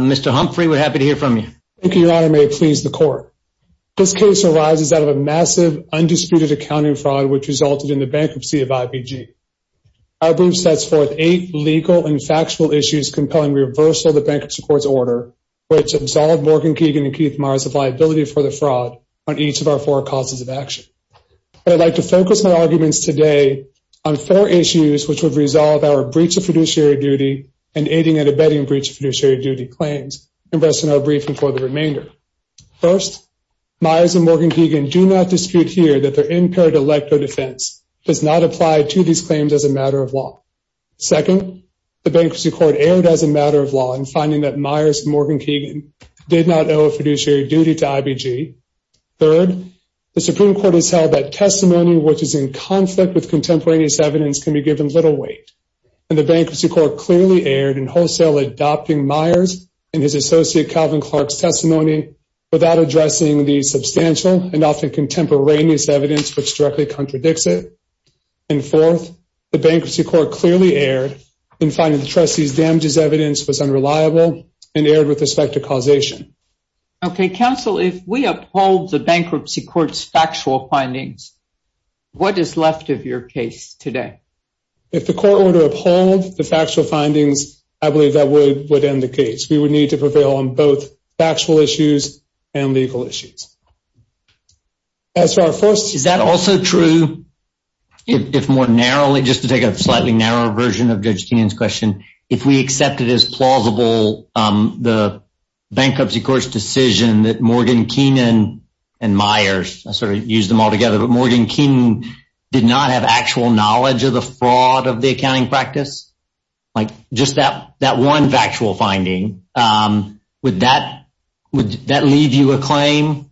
Mr. Humphrey, we're happy to hear from you. Thank you, Your Honor. May it please the Court. This case arises out of a massive, undisputed accounting fraud which resulted in the bankruptcy of IBG. Our brief sets forth eight legal and factual issues compelling reversal of the Bankruptcy Court's order, which absolved Morgan Keegan & Keith Meyers of liability for the fraud on each of our four causes of action. I'd like to focus my arguments today on four issues which would resolve our breach of producer's rights of fiduciary duty and aiding and abetting breach of fiduciary duty claims, and rest in our briefing for the remainder. First, Meyers & Morgan Keegan do not dispute here that their impaired electoral defense does not apply to these claims as a matter of law. Second, the Bankruptcy Court erred as a matter of law in finding that Meyers & Morgan Keegan did not owe a fiduciary duty to IBG. Third, the Supreme Court has held that testimony which is in conflict with contemporaneous evidence can be given little weight, and the Bankruptcy Court clearly erred in wholesale adopting Meyers and his associate Calvin Clark's testimony without addressing the substantial and often contemporaneous evidence which directly contradicts it. And fourth, the Bankruptcy Court clearly erred in finding the trustee's damages evidence was unreliable and erred with respect to causation. Okay, counsel, if we uphold the Bankruptcy Court's factual findings, what is left of your case today? If the court were to uphold the factual findings, I believe that would end the case. We would need to prevail on both factual issues and legal issues. Is that also true if more narrowly, just to take a slightly narrower version of Judge Keenan's question, if we accept it as plausible the Bankruptcy Court's decision that Morgan Keenan and Meyers, to the fraud of the accounting practice, like just that one factual finding, would that leave you a claim?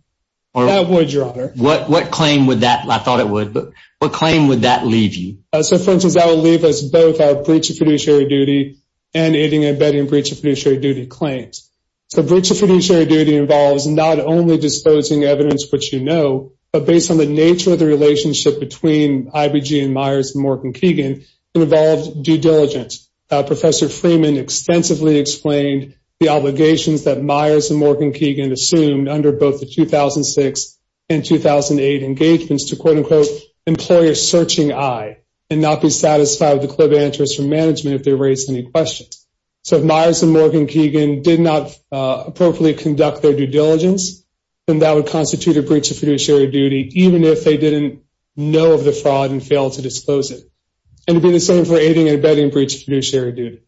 That would, Your Honor. What claim would that – I thought it would, but what claim would that leave you? So, for instance, that would leave us both our breach of fiduciary duty and aiding and abetting breach of fiduciary duty claims. So breach of fiduciary duty involves not only disposing evidence which you know, but based on the nature of the relationship between IBG and Meyers and Morgan Keenan, it involves due diligence. Professor Freeman extensively explained the obligations that Meyers and Morgan Keenan assumed under both the 2006 and 2008 engagements to, quote, unquote, employer searching I, and not be satisfied with the club answers from management if they raised any questions. So if Meyers and Morgan Keenan did not appropriately conduct their due diligence, then that would constitute a breach of fiduciary duty even if they didn't know of the fraud and failed to disclose it. And it would be the same for aiding and abetting breach of fiduciary duty.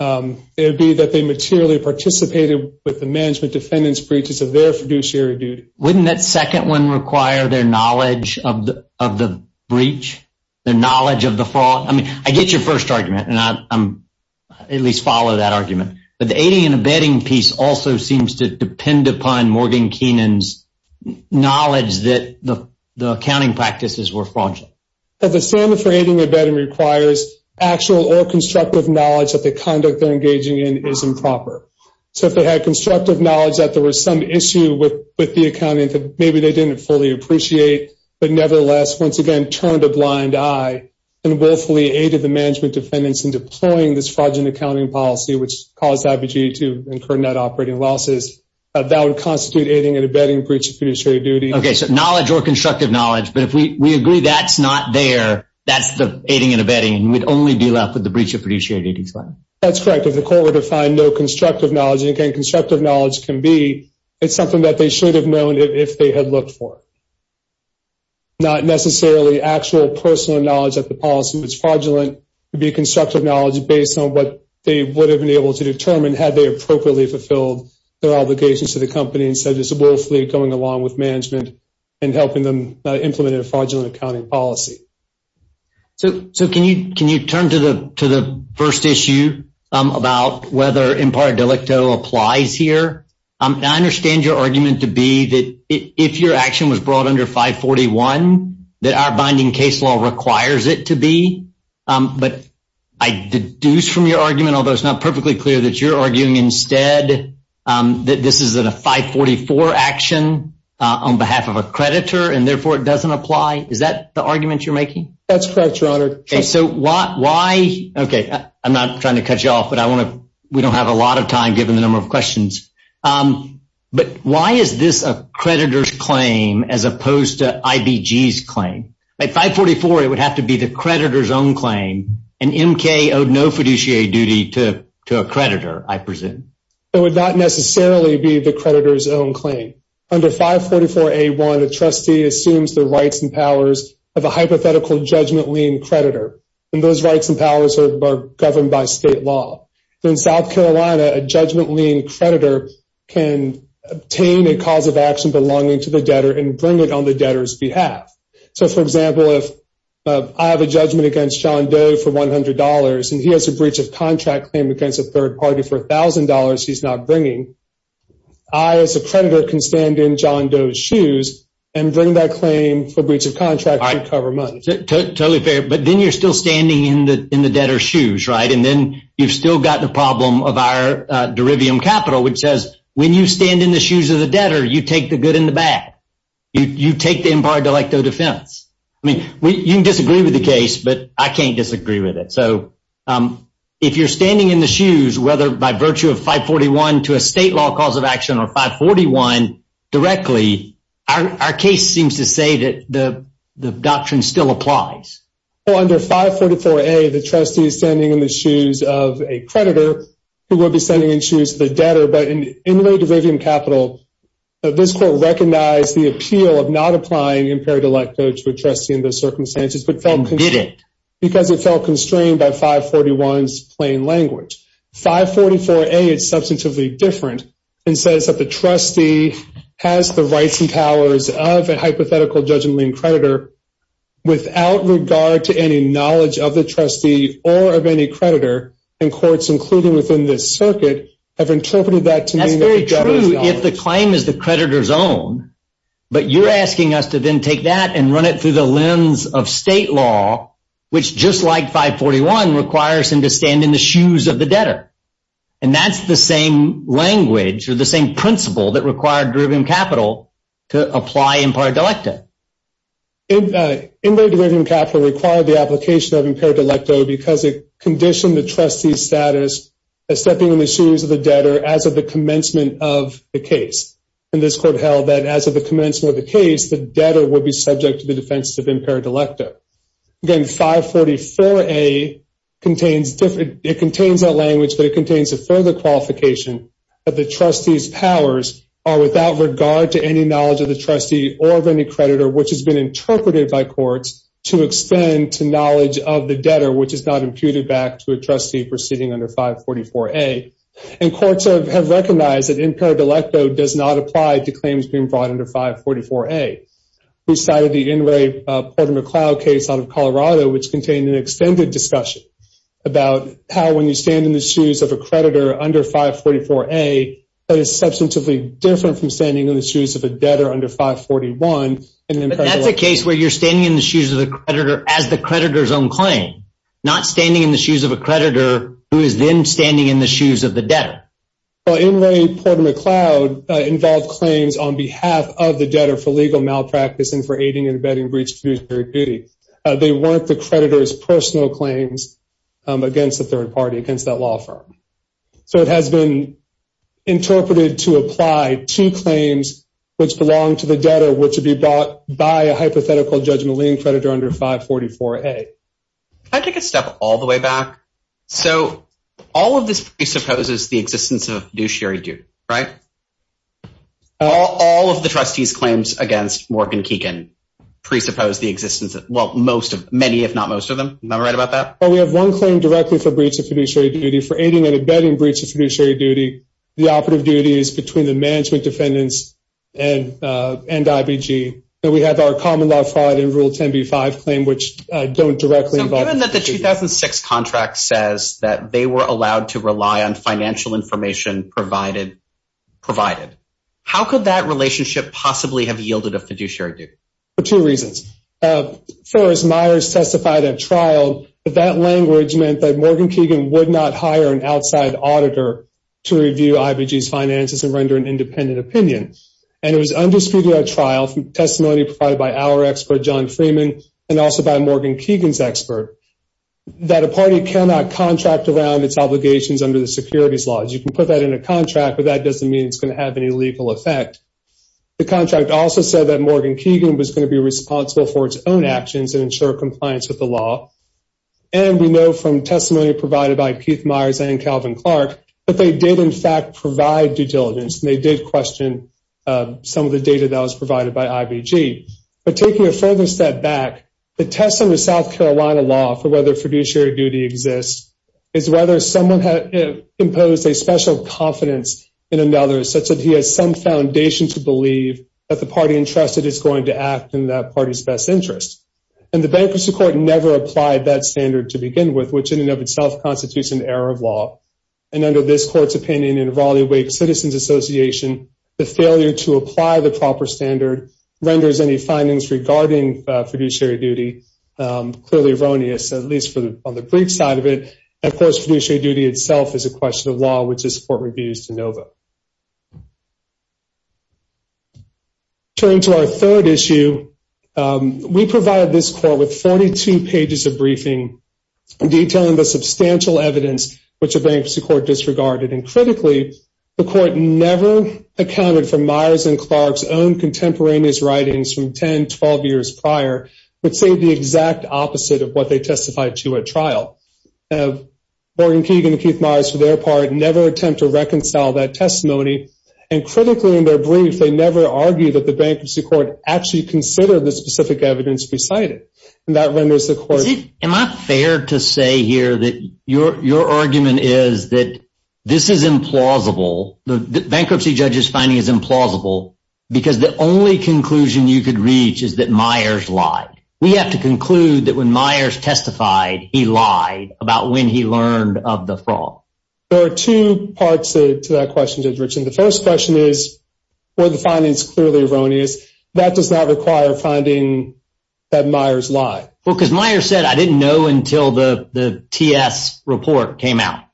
It would be that they materially participated with the management defendant's breaches of their fiduciary duty. Wouldn't that second one require their knowledge of the breach, their knowledge of the fraud? I mean, I get your first argument, and I at least follow that argument. But the aiding and abetting piece also seems to depend upon Morgan Keenan's knowledge that the accounting practices were fraudulent. The standard for aiding and abetting requires actual or constructive knowledge that the conduct they're engaging in is improper. So if they had constructive knowledge that there was some issue with the accounting that maybe they didn't fully appreciate, but nevertheless, once again, turned a blind eye and willfully aided the management defendants in deploying this fraudulent accounting policy which caused IBGE to incur net operating losses, that would constitute aiding and abetting breach of fiduciary duty. Okay, so knowledge or constructive knowledge. But if we agree that's not there, that's the aiding and abetting. We'd only be left with the breach of fiduciary duty. That's correct. If the court were to find no constructive knowledge, and again, constructive knowledge can be, it's something that they should have known if they had looked for it, not necessarily actual personal knowledge that the policy was fraudulent, it would be constructive knowledge based on what they would have been able to determine had they appropriately fulfilled their obligations to the company instead of just willfully going along with management and helping them implement a fraudulent accounting policy. So can you turn to the first issue about whether impar delicto applies here? I understand your argument to be that if your action was brought under 541, that our binding case law requires it to be. But I deduce from your argument, although it's not perfectly clear, that you're arguing instead that this is a 544 action on behalf of a creditor, and therefore it doesn't apply. Is that the argument you're making? That's correct, Your Honor. So why, okay, I'm not trying to cut you off, but we don't have a lot of time given the number of questions. But why is this a creditor's claim as opposed to IBG's claim? At 544, it would have to be the creditor's own claim, and MK owed no fiduciary duty to a creditor, I presume. It would not necessarily be the creditor's own claim. Under 544A1, a trustee assumes the rights and powers of a hypothetical judgment lien creditor, and those rights and powers are governed by state law. In South Carolina, a judgment lien creditor can obtain a cause of action belonging to the debtor and bring it on the debtor's behalf. So, for example, if I have a judgment against John Doe for $100 and he has a breach of contract claim against a third party for $1,000 he's not bringing, I, as a creditor, can stand in John Doe's shoes and bring that claim for breach of contract and cover money. Totally fair. But then you're still standing in the debtor's shoes, right? And then you've still got the problem of our derivium capital, which says when you stand in the shoes of the debtor, you take the good and the bad. You take the imparted delecto defense. I mean, you can disagree with the case, but I can't disagree with it. So if you're standing in the shoes, whether by virtue of 541 to a state law cause of action or 541 directly, our case seems to say that the doctrine still applies. Well, under 544A, the trustee is standing in the shoes of a creditor who would be standing in the shoes of the debtor. But in late derivium capital, this court recognized the appeal of not applying impaired delecto to a trustee in those circumstances. And did it. Because it felt constrained by 541's plain language. 544A is substantively different and says that the trustee has the rights and powers of a hypothetical judgment lean creditor without regard to any knowledge of the trustee or of any creditor. And courts, including within this circuit, have interpreted that to mean. That's very true if the claim is the creditor's own. But you're asking us to then take that and run it through the lens of state law, which, just like 541, requires him to stand in the shoes of the debtor. And that's the same language or the same principle that required derivium capital to apply impaired delecto. In late derivium capital required the application of impaired delecto because it conditioned the trustee's status as stepping in the shoes of the debtor as of the commencement of the case. And this court held that as of the commencement of the case, the debtor would be subject to the defense of impaired delecto. Again, 544A contains that language, but it contains a further qualification that the trustee's powers are without regard to any knowledge of the trustee or of any creditor, which has been interpreted by courts to extend to knowledge of the debtor, which is not imputed back to a trustee proceeding under 544A. And courts have recognized that impaired delecto does not apply to claims being brought under 544A. We cited the Inouye Porter-McLeod case out of Colorado, which contained an extended discussion about how when you stand in the shoes of a creditor under 544A, that is substantively different from standing in the shoes of a debtor under 541. But that's a case where you're standing in the shoes of the creditor as the creditor's own claim, not standing in the shoes of a creditor who is then standing in the shoes of the debtor. Well, Inouye Porter-McLeod involved claims on behalf of the debtor for legal malpractice and for aiding and abetting breach of fiduciary duty. They weren't the creditor's personal claims against the third party, against that law firm. So it has been interpreted to apply to claims which belong to the debtor, which would be brought by a hypothetical judgment-laying creditor under 544A. Can I take a step all the way back? So all of this presupposes the existence of fiduciary duty, right? All of the trustees' claims against Morgan Keegan presuppose the existence of – well, many if not most of them. Am I right about that? Well, we have one claim directly for breach of fiduciary duty. For aiding and abetting breach of fiduciary duty, the operative duty is between the management defendants and IBG. And we have our common law fraud and Rule 10b-5 claim, which don't directly involve fiduciary duty. So given that the 2006 contract says that they were allowed to rely on financial information provided, how could that relationship possibly have yielded a fiduciary duty? For two reasons. As far as Myers testified at trial, that language meant that Morgan Keegan would not hire an outside auditor to review IBG's finances and render an independent opinion. And it was undisputed at trial from testimony provided by our expert, John Freeman, and also by Morgan Keegan's expert, that a party cannot contract around its obligations under the securities laws. You can put that in a contract, but that doesn't mean it's going to have any legal effect. The contract also said that Morgan Keegan was going to be responsible for its own actions and ensure compliance with the law. And we know from testimony provided by Keith Myers and Calvin Clark, that they did, in fact, provide due diligence, and they did question some of the data that was provided by IBG. But taking a further step back, the test under South Carolina law for whether fiduciary duty exists is whether someone had imposed a special confidence in another such that he has some foundation to believe that the party entrusted is going to act in that party's best interest. And the bankruptcy court never applied that standard to begin with, which in and of itself constitutes an error of law. And under this court's opinion, in Evaluate Citizens Association, the failure to apply the proper standard renders any findings regarding fiduciary duty clearly erroneous, at least on the brief side of it. And, of course, fiduciary duty itself is a question of law, which this court reviews de novo. Turning to our third issue, we provided this court with 42 pages of briefing, detailing the substantial evidence which the bankruptcy court disregarded. And critically, the court never accounted for Myers and Clark's own contemporaneous writings from 10, 12 years prior, which say the exact opposite of what they testified to at trial. Morgan Keegan and Keith Myers, for their part, never attempt to reconcile that testimony. And critically, in their brief, they never argue that the bankruptcy court actually considered the specific evidence presided. And that renders the court— Am I fair to say here that your argument is that this is implausible, the bankruptcy judge's finding is implausible, because the only conclusion you could reach is that Myers lied. We have to conclude that when Myers testified, he lied about when he learned of the fraud. There are two parts to that question, Judge Richman. The first question is, were the findings clearly erroneous? That does not require finding that Myers lied. Well, because Myers said, I didn't know until the TS report came out.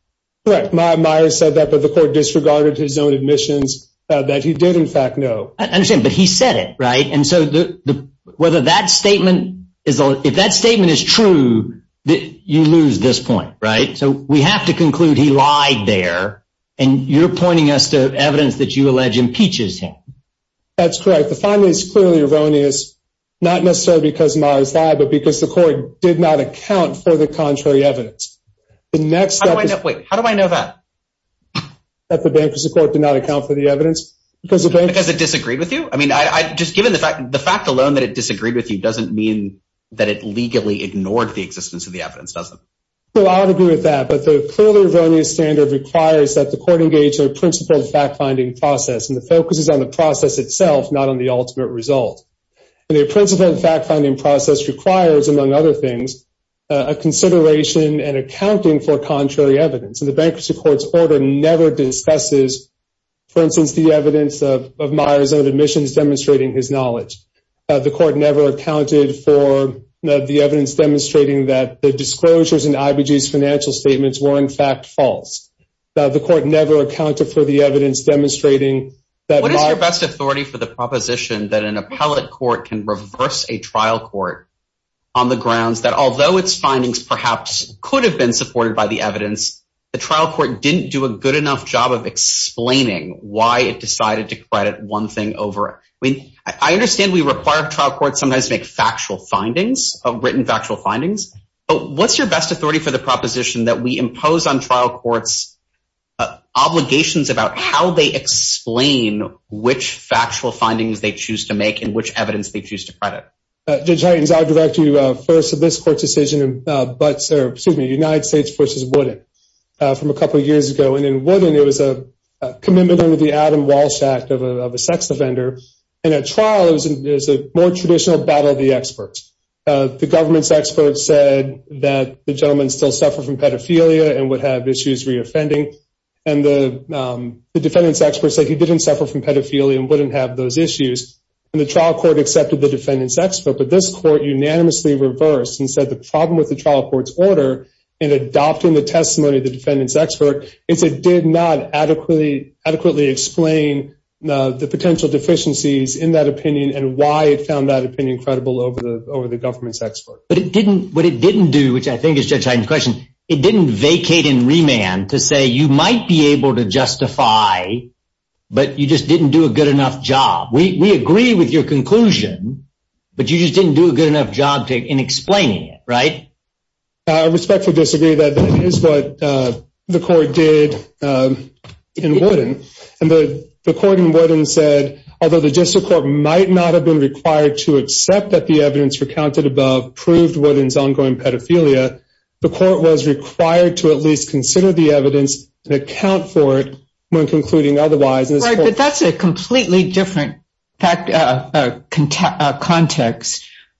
Correct. Myers said that, but the court disregarded his own admissions that he did, in fact, know. I understand, but he said it, right? And so whether that statement—if that statement is true, you lose this point, right? So we have to conclude he lied there, and you're pointing us to evidence that you allege impeaches him. That's correct. The finding is clearly erroneous, not necessarily because Myers lied, but because the court did not account for the contrary evidence. The next step is— Wait, how do I know that? That the bankruptcy court did not account for the evidence? Because it disagreed with you? I mean, just given the fact alone that it disagreed with you doesn't mean that it legally ignored the existence of the evidence, does it? Well, I would agree with that, but the clearly erroneous standard requires that the court engage in a principled fact-finding process, and it focuses on the process itself, not on the ultimate result. And a principled fact-finding process requires, among other things, a consideration and accounting for contrary evidence. And the bankruptcy court's order never discusses, for instance, the evidence of Myers' own admissions demonstrating his knowledge. The court never accounted for the evidence demonstrating that the disclosures in IBG's financial statements were, in fact, false. The court never accounted for the evidence demonstrating that Myers— What is your best authority for the proposition that an appellate court can reverse a trial court on the grounds that, although its findings perhaps could have been supported by the evidence, the trial court didn't do a good enough job of explaining why it decided to credit one thing over— I mean, I understand we require trial courts sometimes to make factual findings, written factual findings, but what's your best authority for the proposition that we impose on trial courts obligations about how they explain which factual findings they choose to make and which evidence they choose to credit? Judge Heightens, I'll direct you first to this court's decision in United States v. Wooden from a couple of years ago. And in Wooden, it was a commitment under the Adam Walsh Act of a sex offender. And at trial, it was a more traditional battle of the experts. The government's experts said that the gentleman still suffered from pedophilia and would have issues reoffending. And the defendant's experts said he didn't suffer from pedophilia and wouldn't have those issues. And the trial court accepted the defendant's expert, but this court unanimously reversed and said the problem with the trial court's order in adopting the testimony of the defendant's expert is it did not adequately explain the potential deficiencies in that opinion and why it found that opinion credible over the government's expert. But it didn't—what it didn't do, which I think is Judge Heightens' question, it didn't vacate in remand to say you might be able to justify, but you just didn't do a good enough job. We agree with your conclusion, but you just didn't do a good enough job in explaining it, right? I respectfully disagree. That is what the court did in Wooden. And the court in Wooden said, although the district court might not have been required to accept that the evidence recounted above proved Wooden's ongoing pedophilia, the court was required to at least consider the evidence and account for it when concluding otherwise. Right, but that's a completely different context.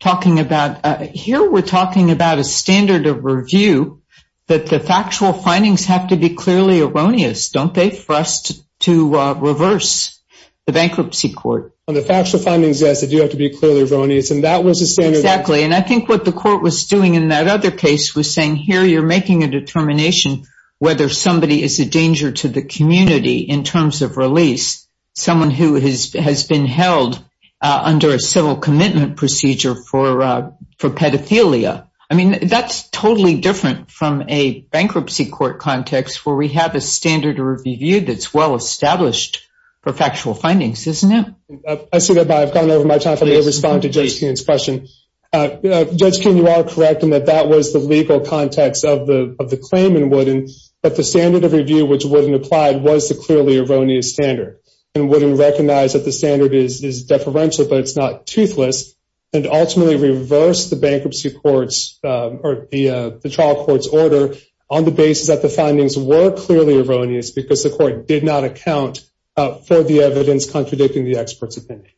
Talking about—here we're talking about a standard of review that the factual findings have to be clearly erroneous. Don't they for us to reverse the bankruptcy court? Well, the factual findings, yes, they do have to be clearly erroneous, and that was the standard. Exactly, and I think what the court was doing in that other case was saying, here you're making a determination whether somebody is a danger to the community in terms of release, someone who has been held under a civil commitment procedure for pedophilia. I mean, that's totally different from a bankruptcy court context where we have a standard of review that's well established for factual findings, isn't it? I see that, but I've gone over my time, so I'm going to respond to Judge Kuhn's question. Judge Kuhn, you are correct in that that was the legal context of the claim in Wooden, but the standard of review which Wooden applied was the clearly erroneous standard, and Wooden recognized that the standard is deferential, but it's not toothless, and ultimately reversed the bankruptcy court's—or the trial court's order on the basis that the findings were clearly erroneous because the court did not account for the evidence contradicting the expert's opinion.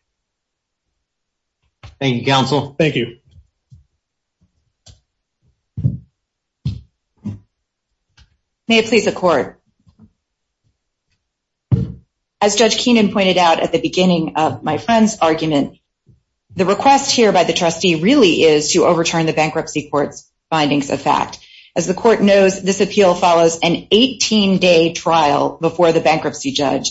Thank you, counsel. Thank you. May it please the court. As Judge Keenan pointed out at the beginning of my friend's argument, the request here by the trustee really is to overturn the bankruptcy court's findings of fact. As the court knows, this appeal follows an 18-day trial before the bankruptcy judge.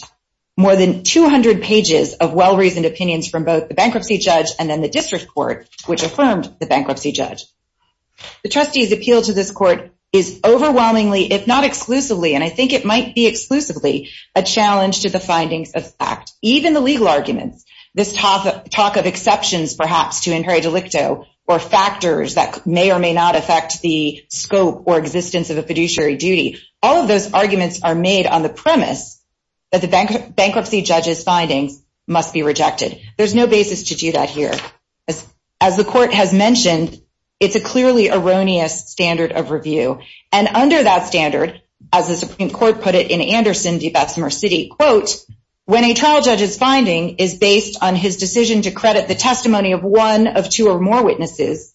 More than 200 pages of well-reasoned opinions from both the bankruptcy judge and then the district court, which affirmed the bankruptcy judge. The trustee's appeal to this court is overwhelmingly, if not exclusively, and I think it might be exclusively, a challenge to the findings of fact. Even the legal arguments, this talk of exceptions, perhaps, to inherent delicto, or factors that may or may not affect the scope or existence of a fiduciary duty, all of those arguments are made on the premise that the bankruptcy judge's findings must be rejected. There's no basis to do that here. As the court has mentioned, it's a clearly erroneous standard of review. And under that standard, as the Supreme Court put it in Anderson v. Bessemer City, quote, when a trial judge's finding is based on his decision to credit the testimony of one of two or more witnesses,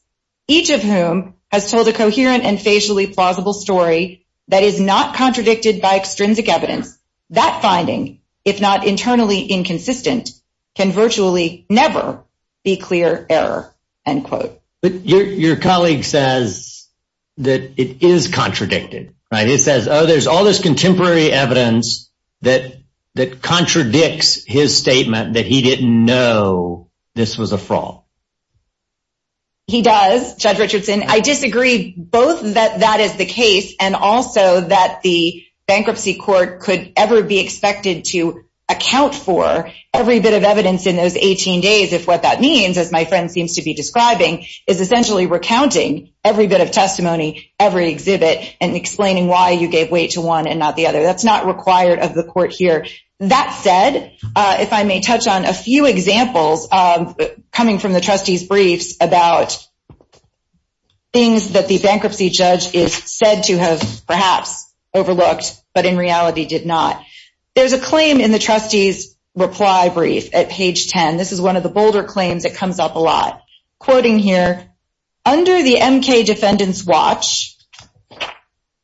each of whom has told a coherent and facially plausible story that is not contradicted by extrinsic evidence, that finding, if not internally inconsistent, can virtually never be clear error, end quote. But your colleague says that it is contradicted, right? He says, oh, there's all this contemporary evidence that contradicts his statement that he didn't know this was a fraud. He does, Judge Richardson. I disagree both that that is the case and also that the bankruptcy court could ever be expected to account for every bit of evidence in those 18 days, if what that means, as my friend seems to be describing, is essentially recounting every bit of testimony, every exhibit, and explaining why you gave weight to one and not the other. That's not required of the court here. That said, if I may touch on a few examples coming from the trustee's briefs about things that the bankruptcy judge is said to have perhaps overlooked, but in reality did not. There's a claim in the trustee's reply brief at page 10. This is one of the bolder claims that comes up a lot. Quoting here, under the MK Defendant's watch,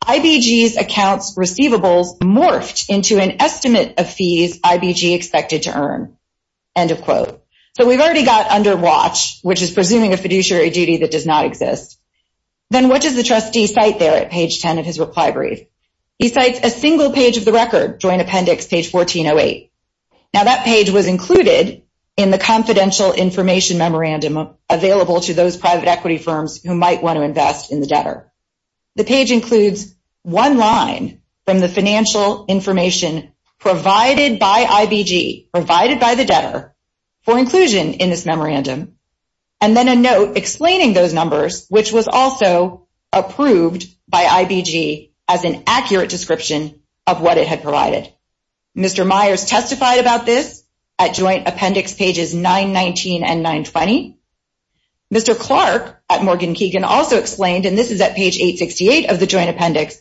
IBG's accounts receivables morphed into an estimate of fees IBG expected to earn, end of quote. So we've already got under watch, which is presuming a fiduciary duty that does not exist. Then what does the trustee cite there at page 10 of his reply brief? He cites a single page of the record, Joint Appendix, page 1408. Now that page was included in the confidential information memorandum available to those private equity firms who might want to invest in the debtor. The page includes one line from the financial information provided by IBG, provided by the debtor, for inclusion in this memorandum, and then a note explaining those numbers, which was also approved by IBG as an accurate description of what it had provided. Mr. Myers testified about this at Joint Appendix pages 919 and 920. Mr. Clark at Morgan Keegan also explained, and this is at page 868 of the Joint Appendix,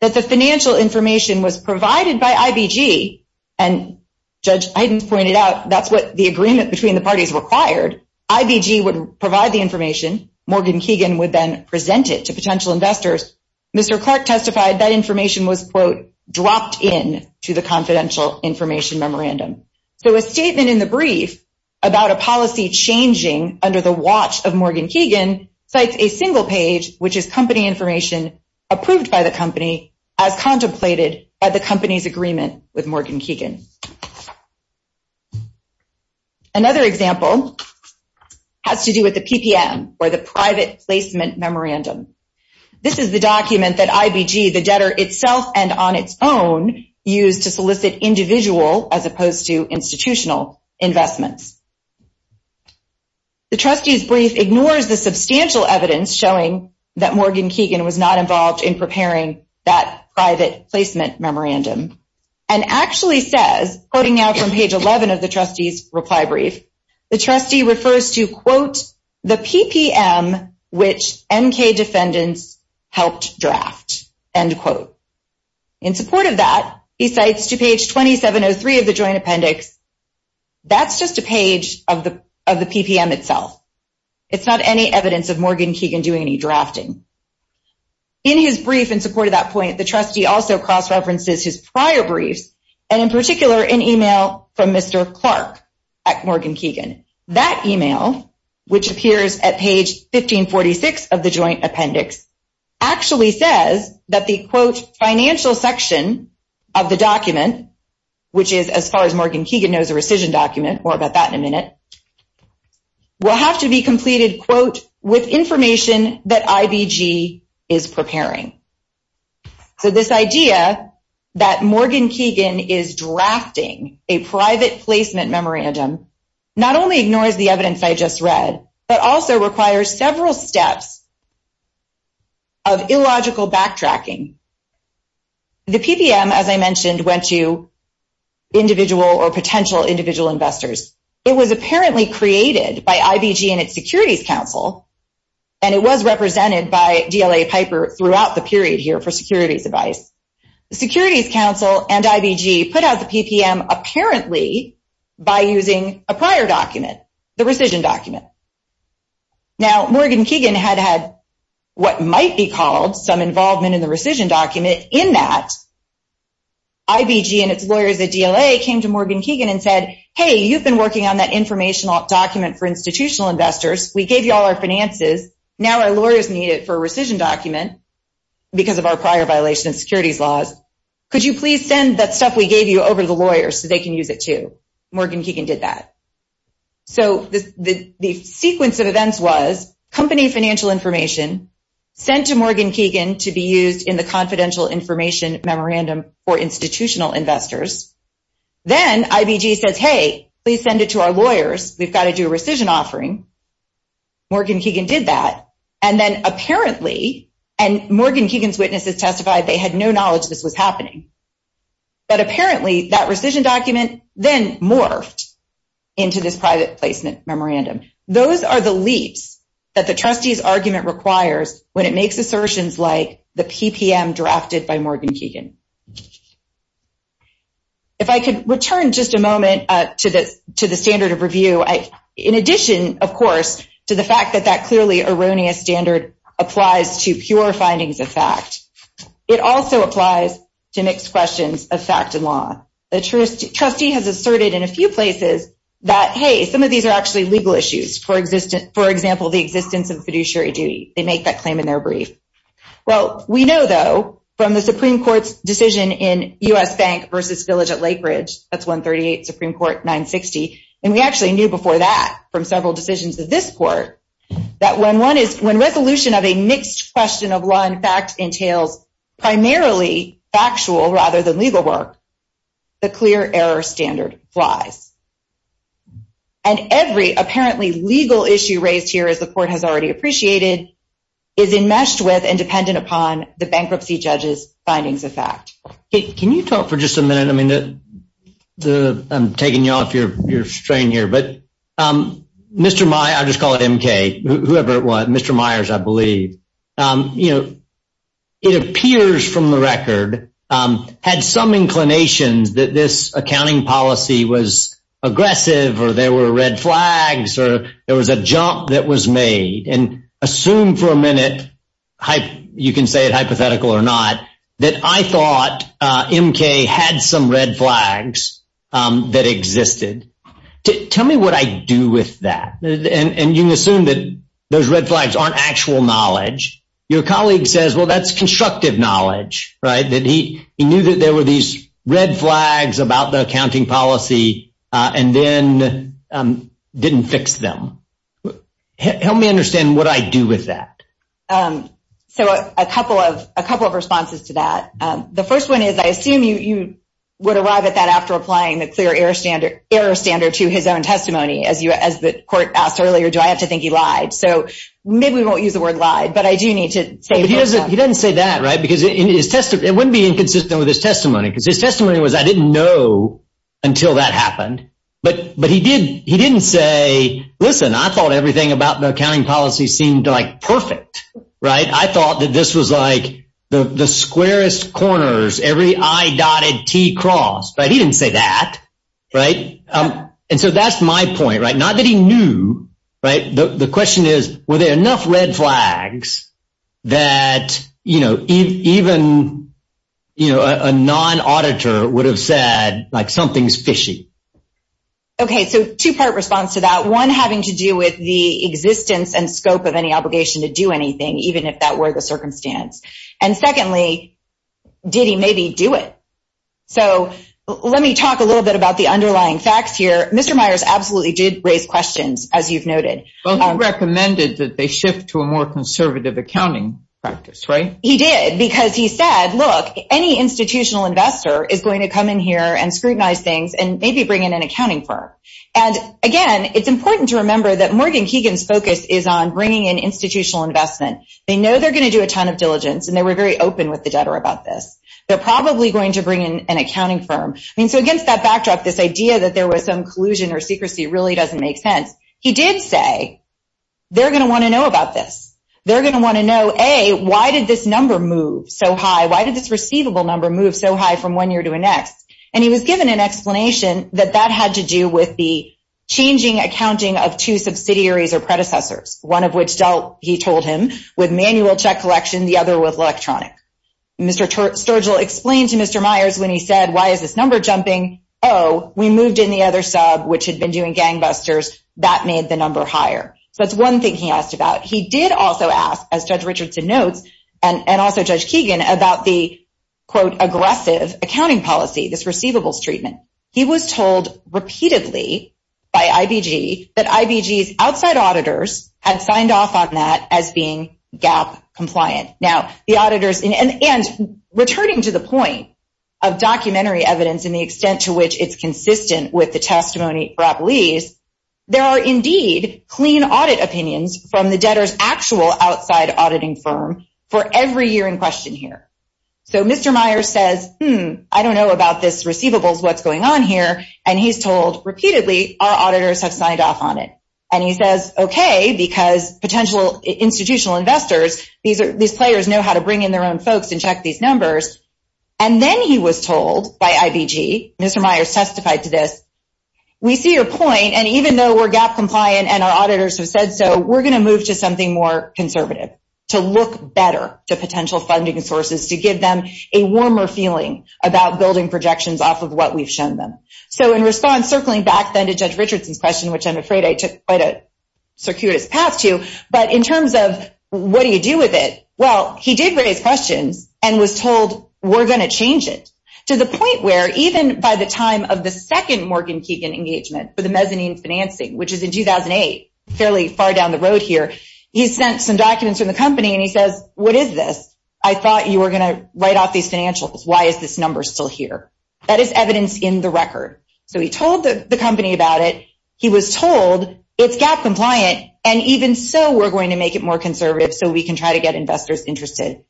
that the financial information was provided by IBG, and Judge Heiden pointed out that's what the agreement between the parties required. IBG would provide the information. Morgan Keegan would then present it to potential investors. Mr. Clark testified that information was, quote, dropped in to the confidential information memorandum. So a statement in the brief about a policy changing under the watch of Morgan Keegan cites a single page, which is company information approved by the company as contemplated by the company's agreement with Morgan Keegan. Another example has to do with the PPM, or the Private Placement Memorandum. This is the document that IBG, the debtor itself, and on its own, used to solicit individual, as opposed to institutional, investments. The trustee's brief ignores the substantial evidence showing that Morgan Keegan was not involved in preparing that private placement memorandum, and actually says, quoting now from page 11 of the trustee's reply brief, the trustee refers to, quote, the PPM which NK defendants helped draft, end quote. In support of that, he cites to page 2703 of the joint appendix, that's just a page of the PPM itself. It's not any evidence of Morgan Keegan doing any drafting. In his brief in support of that point, the trustee also cross-references his prior briefs, and in particular, an email from Mr. Clark at Morgan Keegan. That email, which appears at page 1546 of the joint appendix, actually says that the, quote, financial section of the document, which is, as far as Morgan Keegan knows, a rescission document, more about that in a minute, will have to be completed, quote, with information that IBG is preparing. So this idea that Morgan Keegan is drafting a private placement memorandum not only ignores the evidence I just read, but also requires several steps of illogical backtracking. The PPM, as I mentioned, went to individual or potential individual investors. It was apparently created by IBG and its Securities Council, and it was represented by DLA Piper throughout the period here for securities advice. The Securities Council and IBG put out the PPM apparently by using a prior document, the rescission document. Now, Morgan Keegan had had what might be called some involvement in the rescission document in that IBG and its lawyers at DLA came to Morgan Keegan and said, hey, you've been working on that informational document for institutional investors. We gave you all our finances. Now our lawyers need it for a rescission document because of our prior violation of securities laws. Could you please send that stuff we gave you over to the lawyers so they can use it too? Morgan Keegan did that. So the sequence of events was company financial information sent to Morgan Keegan to be used in the confidential information memorandum for institutional investors. Then IBG says, hey, please send it to our lawyers. We've got to do a rescission offering. Morgan Keegan did that. And then apparently, and Morgan Keegan's witnesses testified they had no knowledge this was happening, but apparently that rescission document then morphed into this private placement memorandum. Those are the leaps that the trustee's argument requires when it makes assertions like the PPM drafted by Morgan Keegan. If I could return just a moment to the standard of review. In addition, of course, to the fact that that clearly erroneous standard applies to pure findings of fact, it also applies to mixed questions of fact and law. The trustee has asserted in a few places that, hey, some of these are actually legal issues. For example, the existence of fiduciary duty. They make that claim in their brief. Well, we know, though, from the Supreme Court's decision in U.S. Bank v. Village at Lake Ridge, that's 138 Supreme Court 960, and we actually knew before that from several decisions of this court, that when resolution of a mixed question of law and fact entails primarily factual rather than legal work, the clear error standard flies. And every apparently legal issue raised here, as the court has already appreciated, is enmeshed with and dependent upon the bankruptcy judge's findings of fact. I'm taking you off your strain here, but Mr. Myers, I'll just call it MK, whoever it was, Mr. Myers, I believe, it appears from the record had some inclinations that this accounting policy was aggressive or there were red flags or there was a jump that was made. And assume for a minute, you can say it hypothetical or not, that I thought MK had some red flags that existed. Tell me what I do with that. And you assume that those red flags aren't actual knowledge. Your colleague says, well, that's constructive knowledge, right? That he knew that there were these red flags about the accounting policy and then didn't fix them. Help me understand what I do with that. So a couple of responses to that. The first one is, I assume you would arrive at that after applying the clear error standard to his own testimony, as the court asked earlier, do I have to think he lied? So maybe we won't use the word lied, but I do need to say that. He doesn't say that, right? Because it wouldn't be inconsistent with his testimony. Because his testimony was I didn't know until that happened. But but he did. He didn't say, listen, I thought everything about the accounting policy seemed like perfect. Right. I thought that this was like the squarest corners, every I dotted T cross. But he didn't say that. Right. And so that's my point. Right. Not that he knew. Right. The question is, were there enough red flags that, you know, even, you know, a non auditor would have said like something's fishy? OK, so two part response to that one having to do with the existence and scope of any obligation to do anything, even if that were the circumstance. And secondly, did he maybe do it? So let me talk a little bit about the underlying facts here. Mr. Myers absolutely did raise questions, as you've noted, recommended that they shift to a more conservative accounting practice. Right. He did because he said, look, any institutional investor is going to come in here and scrutinize things and maybe bring in an accounting firm. And again, it's important to remember that Morgan Keegan's focus is on bringing in institutional investment. They know they're going to do a ton of diligence and they were very open with the debtor about this. They're probably going to bring in an accounting firm. I mean, so against that backdrop, this idea that there was some collusion or secrecy really doesn't make sense. He did say they're going to want to know about this. They're going to want to know, A, why did this number move so high? Why did this receivable number move so high from one year to the next? And he was given an explanation that that had to do with the changing accounting of two subsidiaries or predecessors, one of which dealt, he told him, with manual check collection, the other with electronic. Mr. Sturgill explained to Mr. Myers when he said, why is this number jumping? Oh, we moved in the other sub, which had been doing gangbusters. That made the number higher. So that's one thing he asked about. He did also ask, as Judge Richardson notes and also Judge Keegan, about the, quote, aggressive accounting policy, this receivables treatment. He was told repeatedly by IBG that IBG's outside auditors had signed off on that as being GAAP compliant. Now, the auditors, and returning to the point of documentary evidence and the extent to which it's consistent with the testimony at Barapolese, there are indeed clean audit opinions from the debtor's actual outside auditing firm for every year in question here. So Mr. Myers says, hmm, I don't know about this receivables, what's going on here? And he's told repeatedly, our auditors have signed off on it. And he says, OK, because potential institutional investors, these players know how to bring in their own folks and check these numbers. And then he was told by IBG, Mr. Myers testified to this, we see your point, and even though we're GAAP compliant and our auditors have said so, we're going to move to something more conservative, to look better to potential funding sources, to give them a warmer feeling about building projections off of what we've shown them. So in response, circling back then to Judge Richardson's question, which I'm afraid I took quite a circuitous path to, but in terms of what do you do with it, well, he did raise questions and was told, we're going to change it, to the point where even by the time of the second Morgan Keegan engagement for the mezzanine financing, which is in 2008, fairly far down the road here, he sent some documents from the company and he says, what is this? I thought you were going to write off these financials. Why is this number still here? That is evidence in the record. So he told the company about it. He was told, it's GAAP compliant, and even so, we're going to make it more conservative so we can try to get investors interested.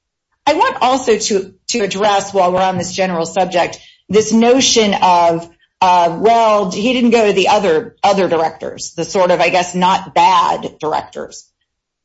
I want also to address, while we're on this general subject, this notion of, well, he didn't go to the other directors, the sort of, I guess, not bad directors.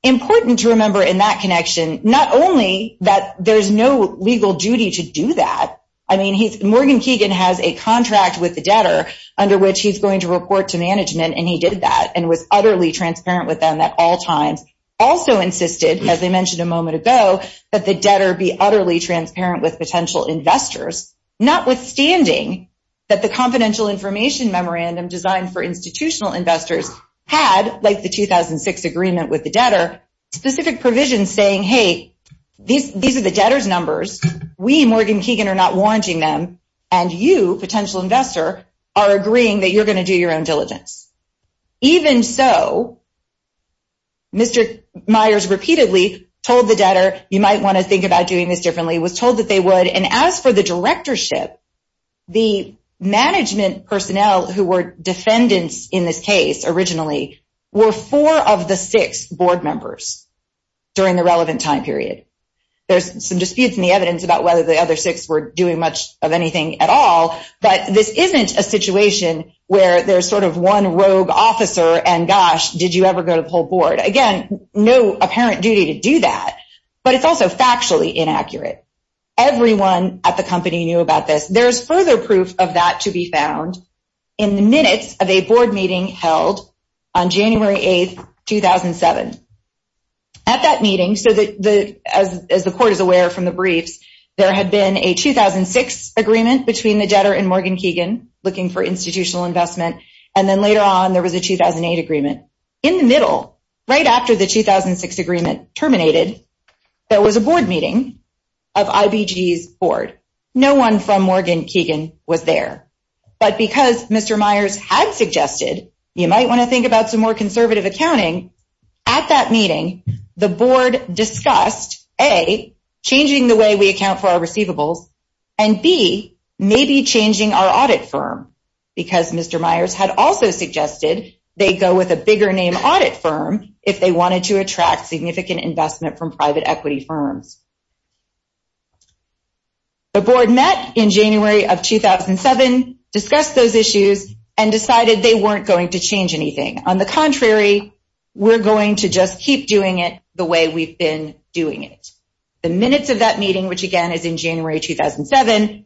Important to remember in that connection, not only that there's no legal duty to do that, I mean, Morgan Keegan has a contract with the debtor under which he's going to report to management, and he did that and was utterly transparent with them at all times. Also insisted, as I mentioned a moment ago, that the debtor be utterly transparent with potential investors, notwithstanding that the confidential information memorandum designed for institutional investors had, like the 2006 agreement with the debtor, specific provisions saying, hey, these are the debtor's numbers. We, Morgan Keegan, are not wanting them, and you, potential investor, are agreeing that you're going to do your own diligence. Even so, Mr. Myers repeatedly told the debtor, you might want to think about doing this differently, was told that they would, and as for the directorship, the management personnel who were defendants in this case originally were four of the six board members during the relevant time period. There's some disputes in the evidence about whether the other six were doing much of anything at all, but this isn't a situation where there's sort of one rogue officer and, gosh, did you ever go to the whole board. Again, no apparent duty to do that, but it's also factually inaccurate. Everyone at the company knew about this. There's further proof of that to be found in the minutes of a board meeting held on January 8, 2007. At that meeting, as the court is aware from the briefs, there had been a 2006 agreement between the debtor and Morgan Keegan looking for institutional investment, and then later on there was a 2008 agreement. In the middle, right after the 2006 agreement terminated, there was a board meeting of IBG's board. No one from Morgan Keegan was there, but because Mr. Myers had suggested, you might want to think about some more conservative accounting, at that meeting the board discussed, A, changing the way we account for our receivables, and B, maybe changing our audit firm, because Mr. Myers had also suggested they go with a bigger name audit firm if they wanted to attract significant investment from private equity firms. The board met in January of 2007, discussed those issues, and decided they weren't going to change anything. On the contrary, we're going to just keep doing it the way we've been doing it. The minutes of that meeting, which again is in January 2007,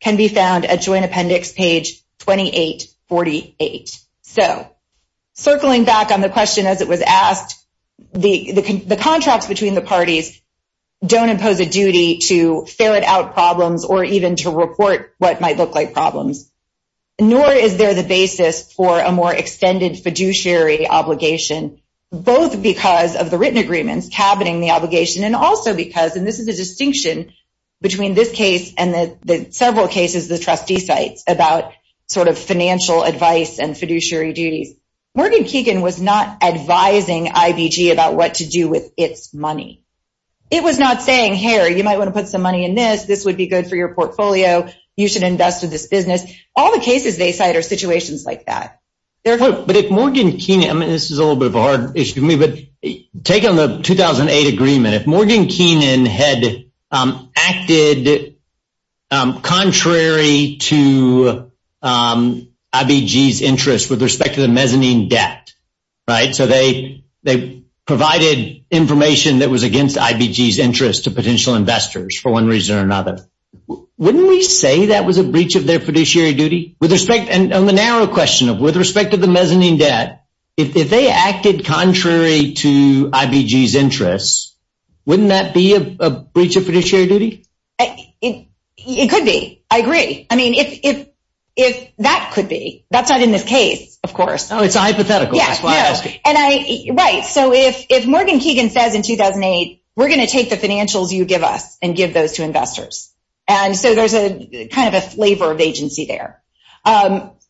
can be found at joint appendix page 2848. Circling back on the question as it was asked, the contracts between the parties don't impose a duty to ferret out problems or even to report what might look like problems, nor is there the basis for a more extended fiduciary obligation, both because of the written agreements cabining the obligation, and also because, and this is a distinction between this case and the several cases the trustee cites about sort of financial advice and fiduciary duties. Morgan Keegan was not advising IBG about what to do with its money. It was not saying, hey, you might want to put some money in this, this would be good for your portfolio, you should invest in this business. All the cases they cite are situations like that. But if Morgan Keegan, I mean this is a little bit of a hard issue for me, but take on the 2008 agreement. If Morgan Keegan had acted contrary to IBG's interest with respect to the mezzanine debt, so they provided information that was against IBG's interest to potential investors for one reason or another, wouldn't we say that was a breach of their fiduciary duty? On the narrow question of with respect to the mezzanine debt, if they acted contrary to IBG's interest, wouldn't that be a breach of fiduciary duty? It could be, I agree. I mean, that could be. That's not in this case, of course. Oh, it's a hypothetical, that's why I'm asking. Right, so if Morgan Keegan says in 2008, we're going to take the financials you give us and give those to investors. And so there's kind of a flavor of agency there.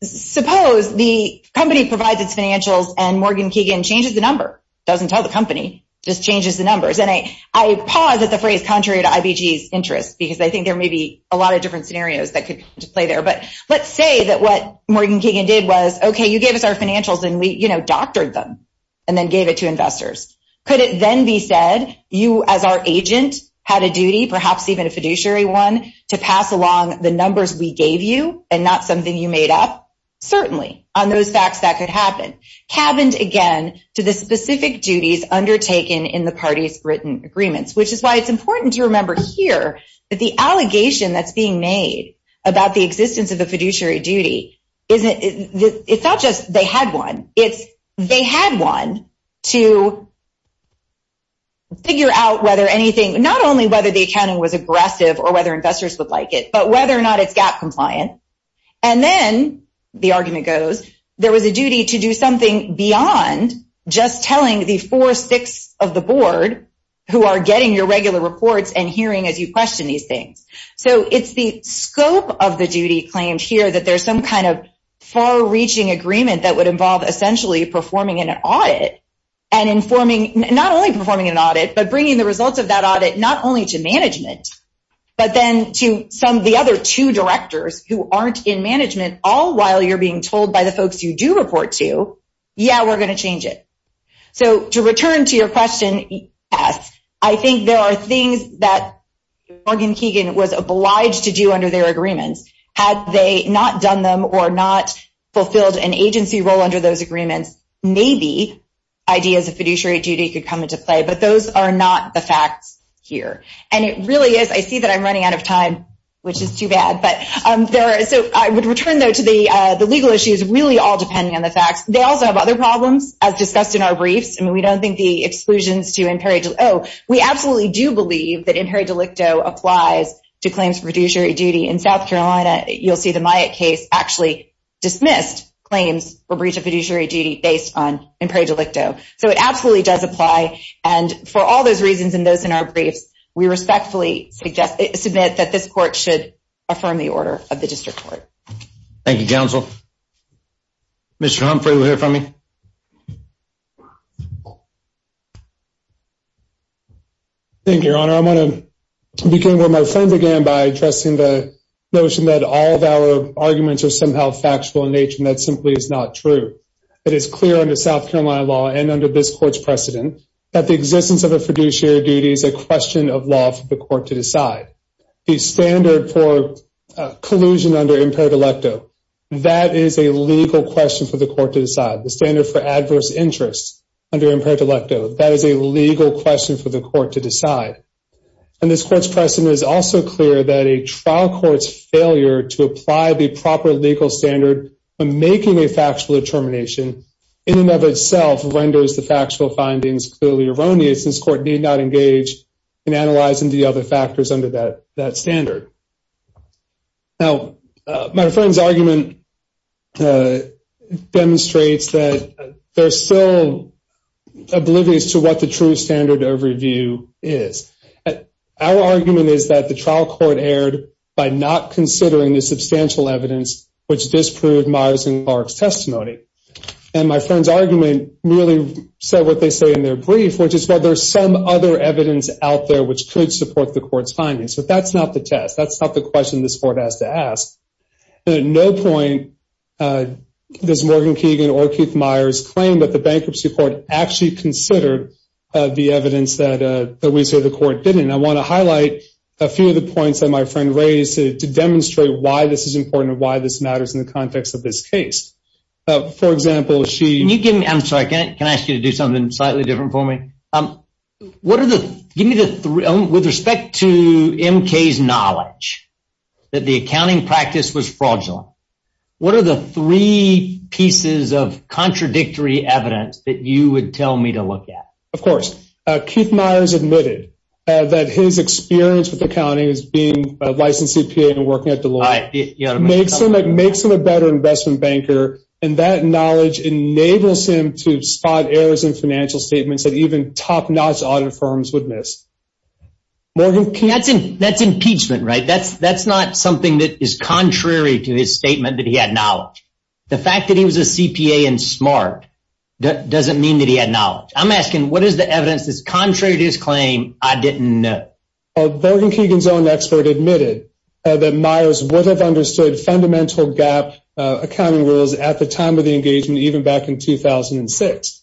Suppose the company provides its financials and Morgan Keegan changes the number, doesn't tell the company, just changes the numbers. And I pause at the phrase contrary to IBG's interest, because I think there may be a lot of different scenarios that could play there. But let's say that what Morgan Keegan did was, okay, you gave us our financials and we doctored them and then gave it to investors. Could it then be said you as our agent had a duty, perhaps even a fiduciary one, to pass along the numbers we gave you and not something you made up? Certainly, on those facts that could happen. Cabined again to the specific duties undertaken in the parties' written agreements, which is why it's important to remember here that the allegation that's being made about the existence of a fiduciary duty, it's not just they had one. It's they had one to figure out whether anything, not only whether the accounting was aggressive or whether investors would like it, but whether or not it's GAAP compliant. And then, the argument goes, there was a duty to do something beyond just telling the four-sixths of the board who are getting your regular reports and hearing as you question these things. So it's the scope of the duty claimed here that there's some kind of far-reaching agreement that would involve essentially performing an audit and informing, not only performing an audit, but bringing the results of that audit not only to management, but then to some of the other two directors who aren't in management, all while you're being told by the folks you do report to, yeah, we're going to change it. So to return to your question, yes, I think there are things that Morgan Keegan was obliged to do under their agreements. Had they not done them or not fulfilled an agency role under those agreements, maybe ideas of fiduciary duty could come into play. But those are not the facts here. And it really is. I see that I'm running out of time, which is too bad. So I would return, though, to the legal issues, really all depending on the facts. They also have other problems, as discussed in our briefs. I mean, we don't think the exclusions to imperio delicto. Oh, we absolutely do believe that imperio delicto applies to claims for fiduciary duty. In South Carolina, you'll see the Myatt case actually dismissed claims for breach of fiduciary duty based on imperio delicto. So it absolutely does apply. And for all those reasons and those in our briefs, we respectfully submit that this court should affirm the order of the district court. Thank you, counsel. Mr. Humphrey, we'll hear from you. Thank you, Your Honor. I'm going to begin where my friend began by addressing the notion that all of our arguments are somehow factual in nature, and that simply is not true. It is clear under South Carolina law and under this court's precedent that the existence of a fiduciary duty is a question of law for the court to decide. The standard for collusion under imperio delicto, that is a legal question for the court to decide. The standard for adverse interests under imperio delicto, that is a legal question for the court to decide. And this court's precedent is also clear that a trial court's failure to apply the proper legal standard for making a factual determination in and of itself renders the factual findings clearly erroneous, and this court need not engage in analyzing the other factors under that standard. Now, my friend's argument demonstrates that there's still oblivious to what the true standard of review is. Our argument is that the trial court erred by not considering the substantial evidence which disproved Myers and Clark's testimony. And my friend's argument merely said what they say in their brief, which is that there's some other evidence out there which could support the court's findings. But that's not the test. That's not the question this court has to ask. And at no point does Morgan Keegan or Keith Myers claim that the bankruptcy court actually considered the evidence that we say the court didn't. And I want to highlight a few of the points that my friend raised to demonstrate why this is important and why this matters in the context of this case. For example, she… I'm sorry. Can I ask you to do something slightly different for me? What are the… Give me the… With respect to MK's knowledge that the accounting practice was fraudulent, what are the three pieces of contradictory evidence that you would tell me to look at? Of course. Keith Myers admitted that his experience with accounting as being a licensed CPA and working at Deloitte makes him a better investment banker, and that knowledge enables him to spot errors in financial statements that even top-notch audit firms would miss. Morgan… That's impeachment, right? That's not something that is contrary to his statement that he had knowledge. The fact that he was a CPA and smart doesn't mean that he had knowledge. I'm asking, what is the evidence that's contrary to his claim I didn't know? Morgan Keegan's own expert admitted that Myers would have understood fundamental gap accounting rules at the time of the engagement, even back in 2006.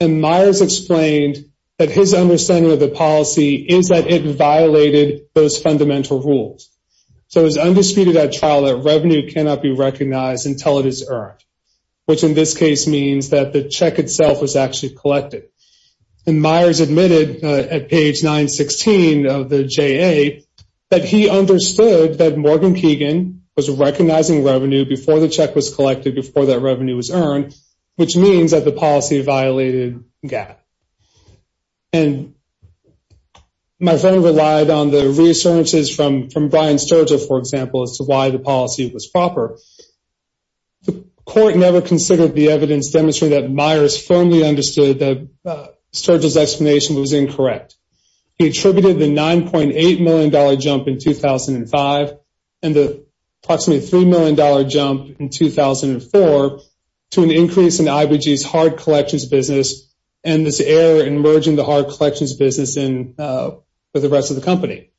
And Myers explained that his understanding of the policy is that it violated those fundamental rules. So it was undisputed at trial that revenue cannot be recognized until it is earned, which in this case means that the check itself was actually collected. And Myers admitted at page 916 of the JA that he understood that Morgan Keegan was recognizing revenue before the check was collected, before that revenue was earned, which means that the policy violated gap. And my friend relied on the reassurances from Brian Sturgill, for example, as to why the policy was proper. The court never considered the evidence demonstrating that Myers firmly understood that Sturgill's explanation was incorrect. He attributed the $9.8 million jump in 2005 and the approximately $3 million jump in 2004 to an increase in IBG's hard collections business and this error in merging the hard collections business with the rest of the company.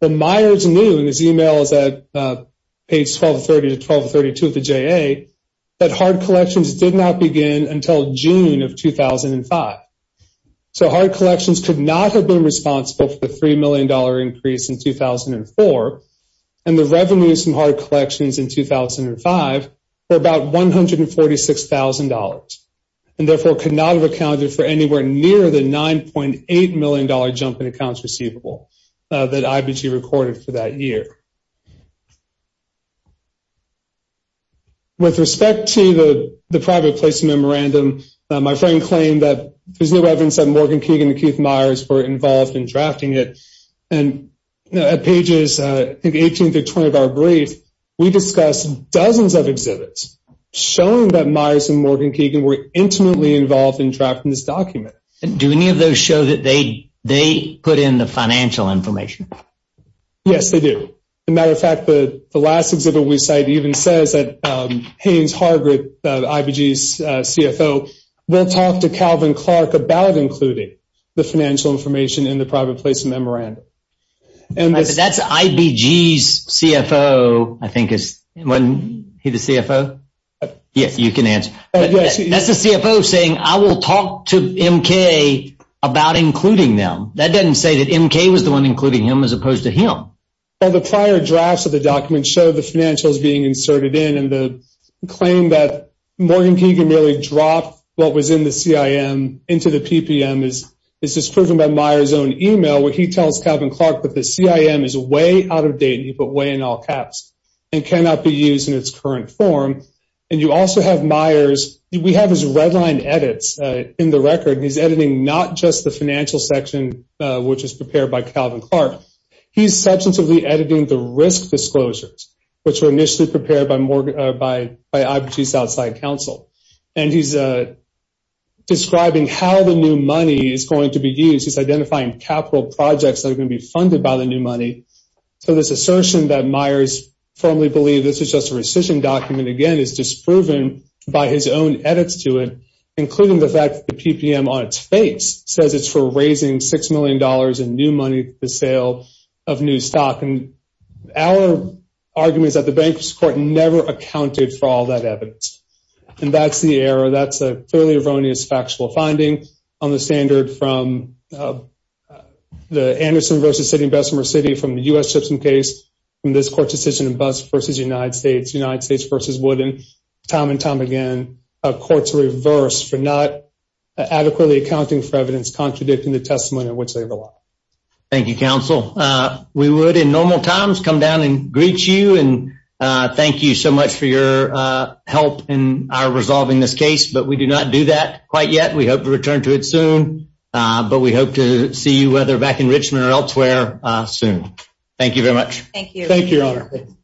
But Myers knew in his e-mails at page 1230 to 1232 of the JA that hard collections did not begin until June of 2005. So hard collections could not have been responsible for the $3 million increase in 2004, and the revenues from hard collections in 2005 were about $146,000 and therefore could not have accounted for anywhere near the $9.8 million jump in accounts receivable that IBG recorded for that year. With respect to the private place memorandum, my friend claimed that there's no evidence that Morgan Keegan and Keith Myers were involved in drafting it. At pages 18 through 20 of our brief, we discussed dozens of exhibits showing that Myers and Morgan Keegan were intimately involved in drafting this document. Do any of those show that they put in the financial information? Yes, they do. As a matter of fact, the last exhibit we cite even says that Haynes Hargreaves, IBG's CFO, will talk to Calvin Clark about including the financial information in the private place memorandum. That's IBG's CFO, I think. Isn't he the CFO? Yes, you can answer. That's the CFO saying, I will talk to MK about including them. That doesn't say that MK was the one including him as opposed to him. Well, the prior drafts of the document show the financials being inserted in and the claim that Morgan Keegan merely dropped what was in the CIM into the PPM is just proven by Myers' own email where he tells Calvin Clark that the CIM is way out of date, he put way in all caps, and cannot be used in its current form. And you also have Myers, we have his red line edits in the record. He's editing not just the financial section, which is prepared by Calvin Clark. He's substantively editing the risk disclosures, which were initially prepared by IBG's outside counsel. And he's describing how the new money is going to be used. He's identifying capital projects that are going to be funded by the new money. So this assertion that Myers firmly believed this was just a rescission document, again, is disproven by his own edits to it, including the fact that the PPM on its face says it's for raising $6 million in new money for the sale of new stock. And our argument is that the bankruptcy court never accounted for all that evidence. And that's the error. That's a fairly erroneous factual finding on the standard from the Anderson v. City and Bessemer City, from the U.S. Simpson case, from this court's decision in Buss v. United States, United States v. Wooden, time and time again, a court's reverse for not adequately accounting for evidence contradicting the testimony in which they rely. Thank you, counsel. We would, in normal times, come down and greet you and thank you so much for your help in our resolving this case. But we do not do that quite yet. We hope to return to it soon. But we hope to see you, whether back in Richmond or elsewhere, soon. Thank you very much. Thank you. Thank you, Your Honor.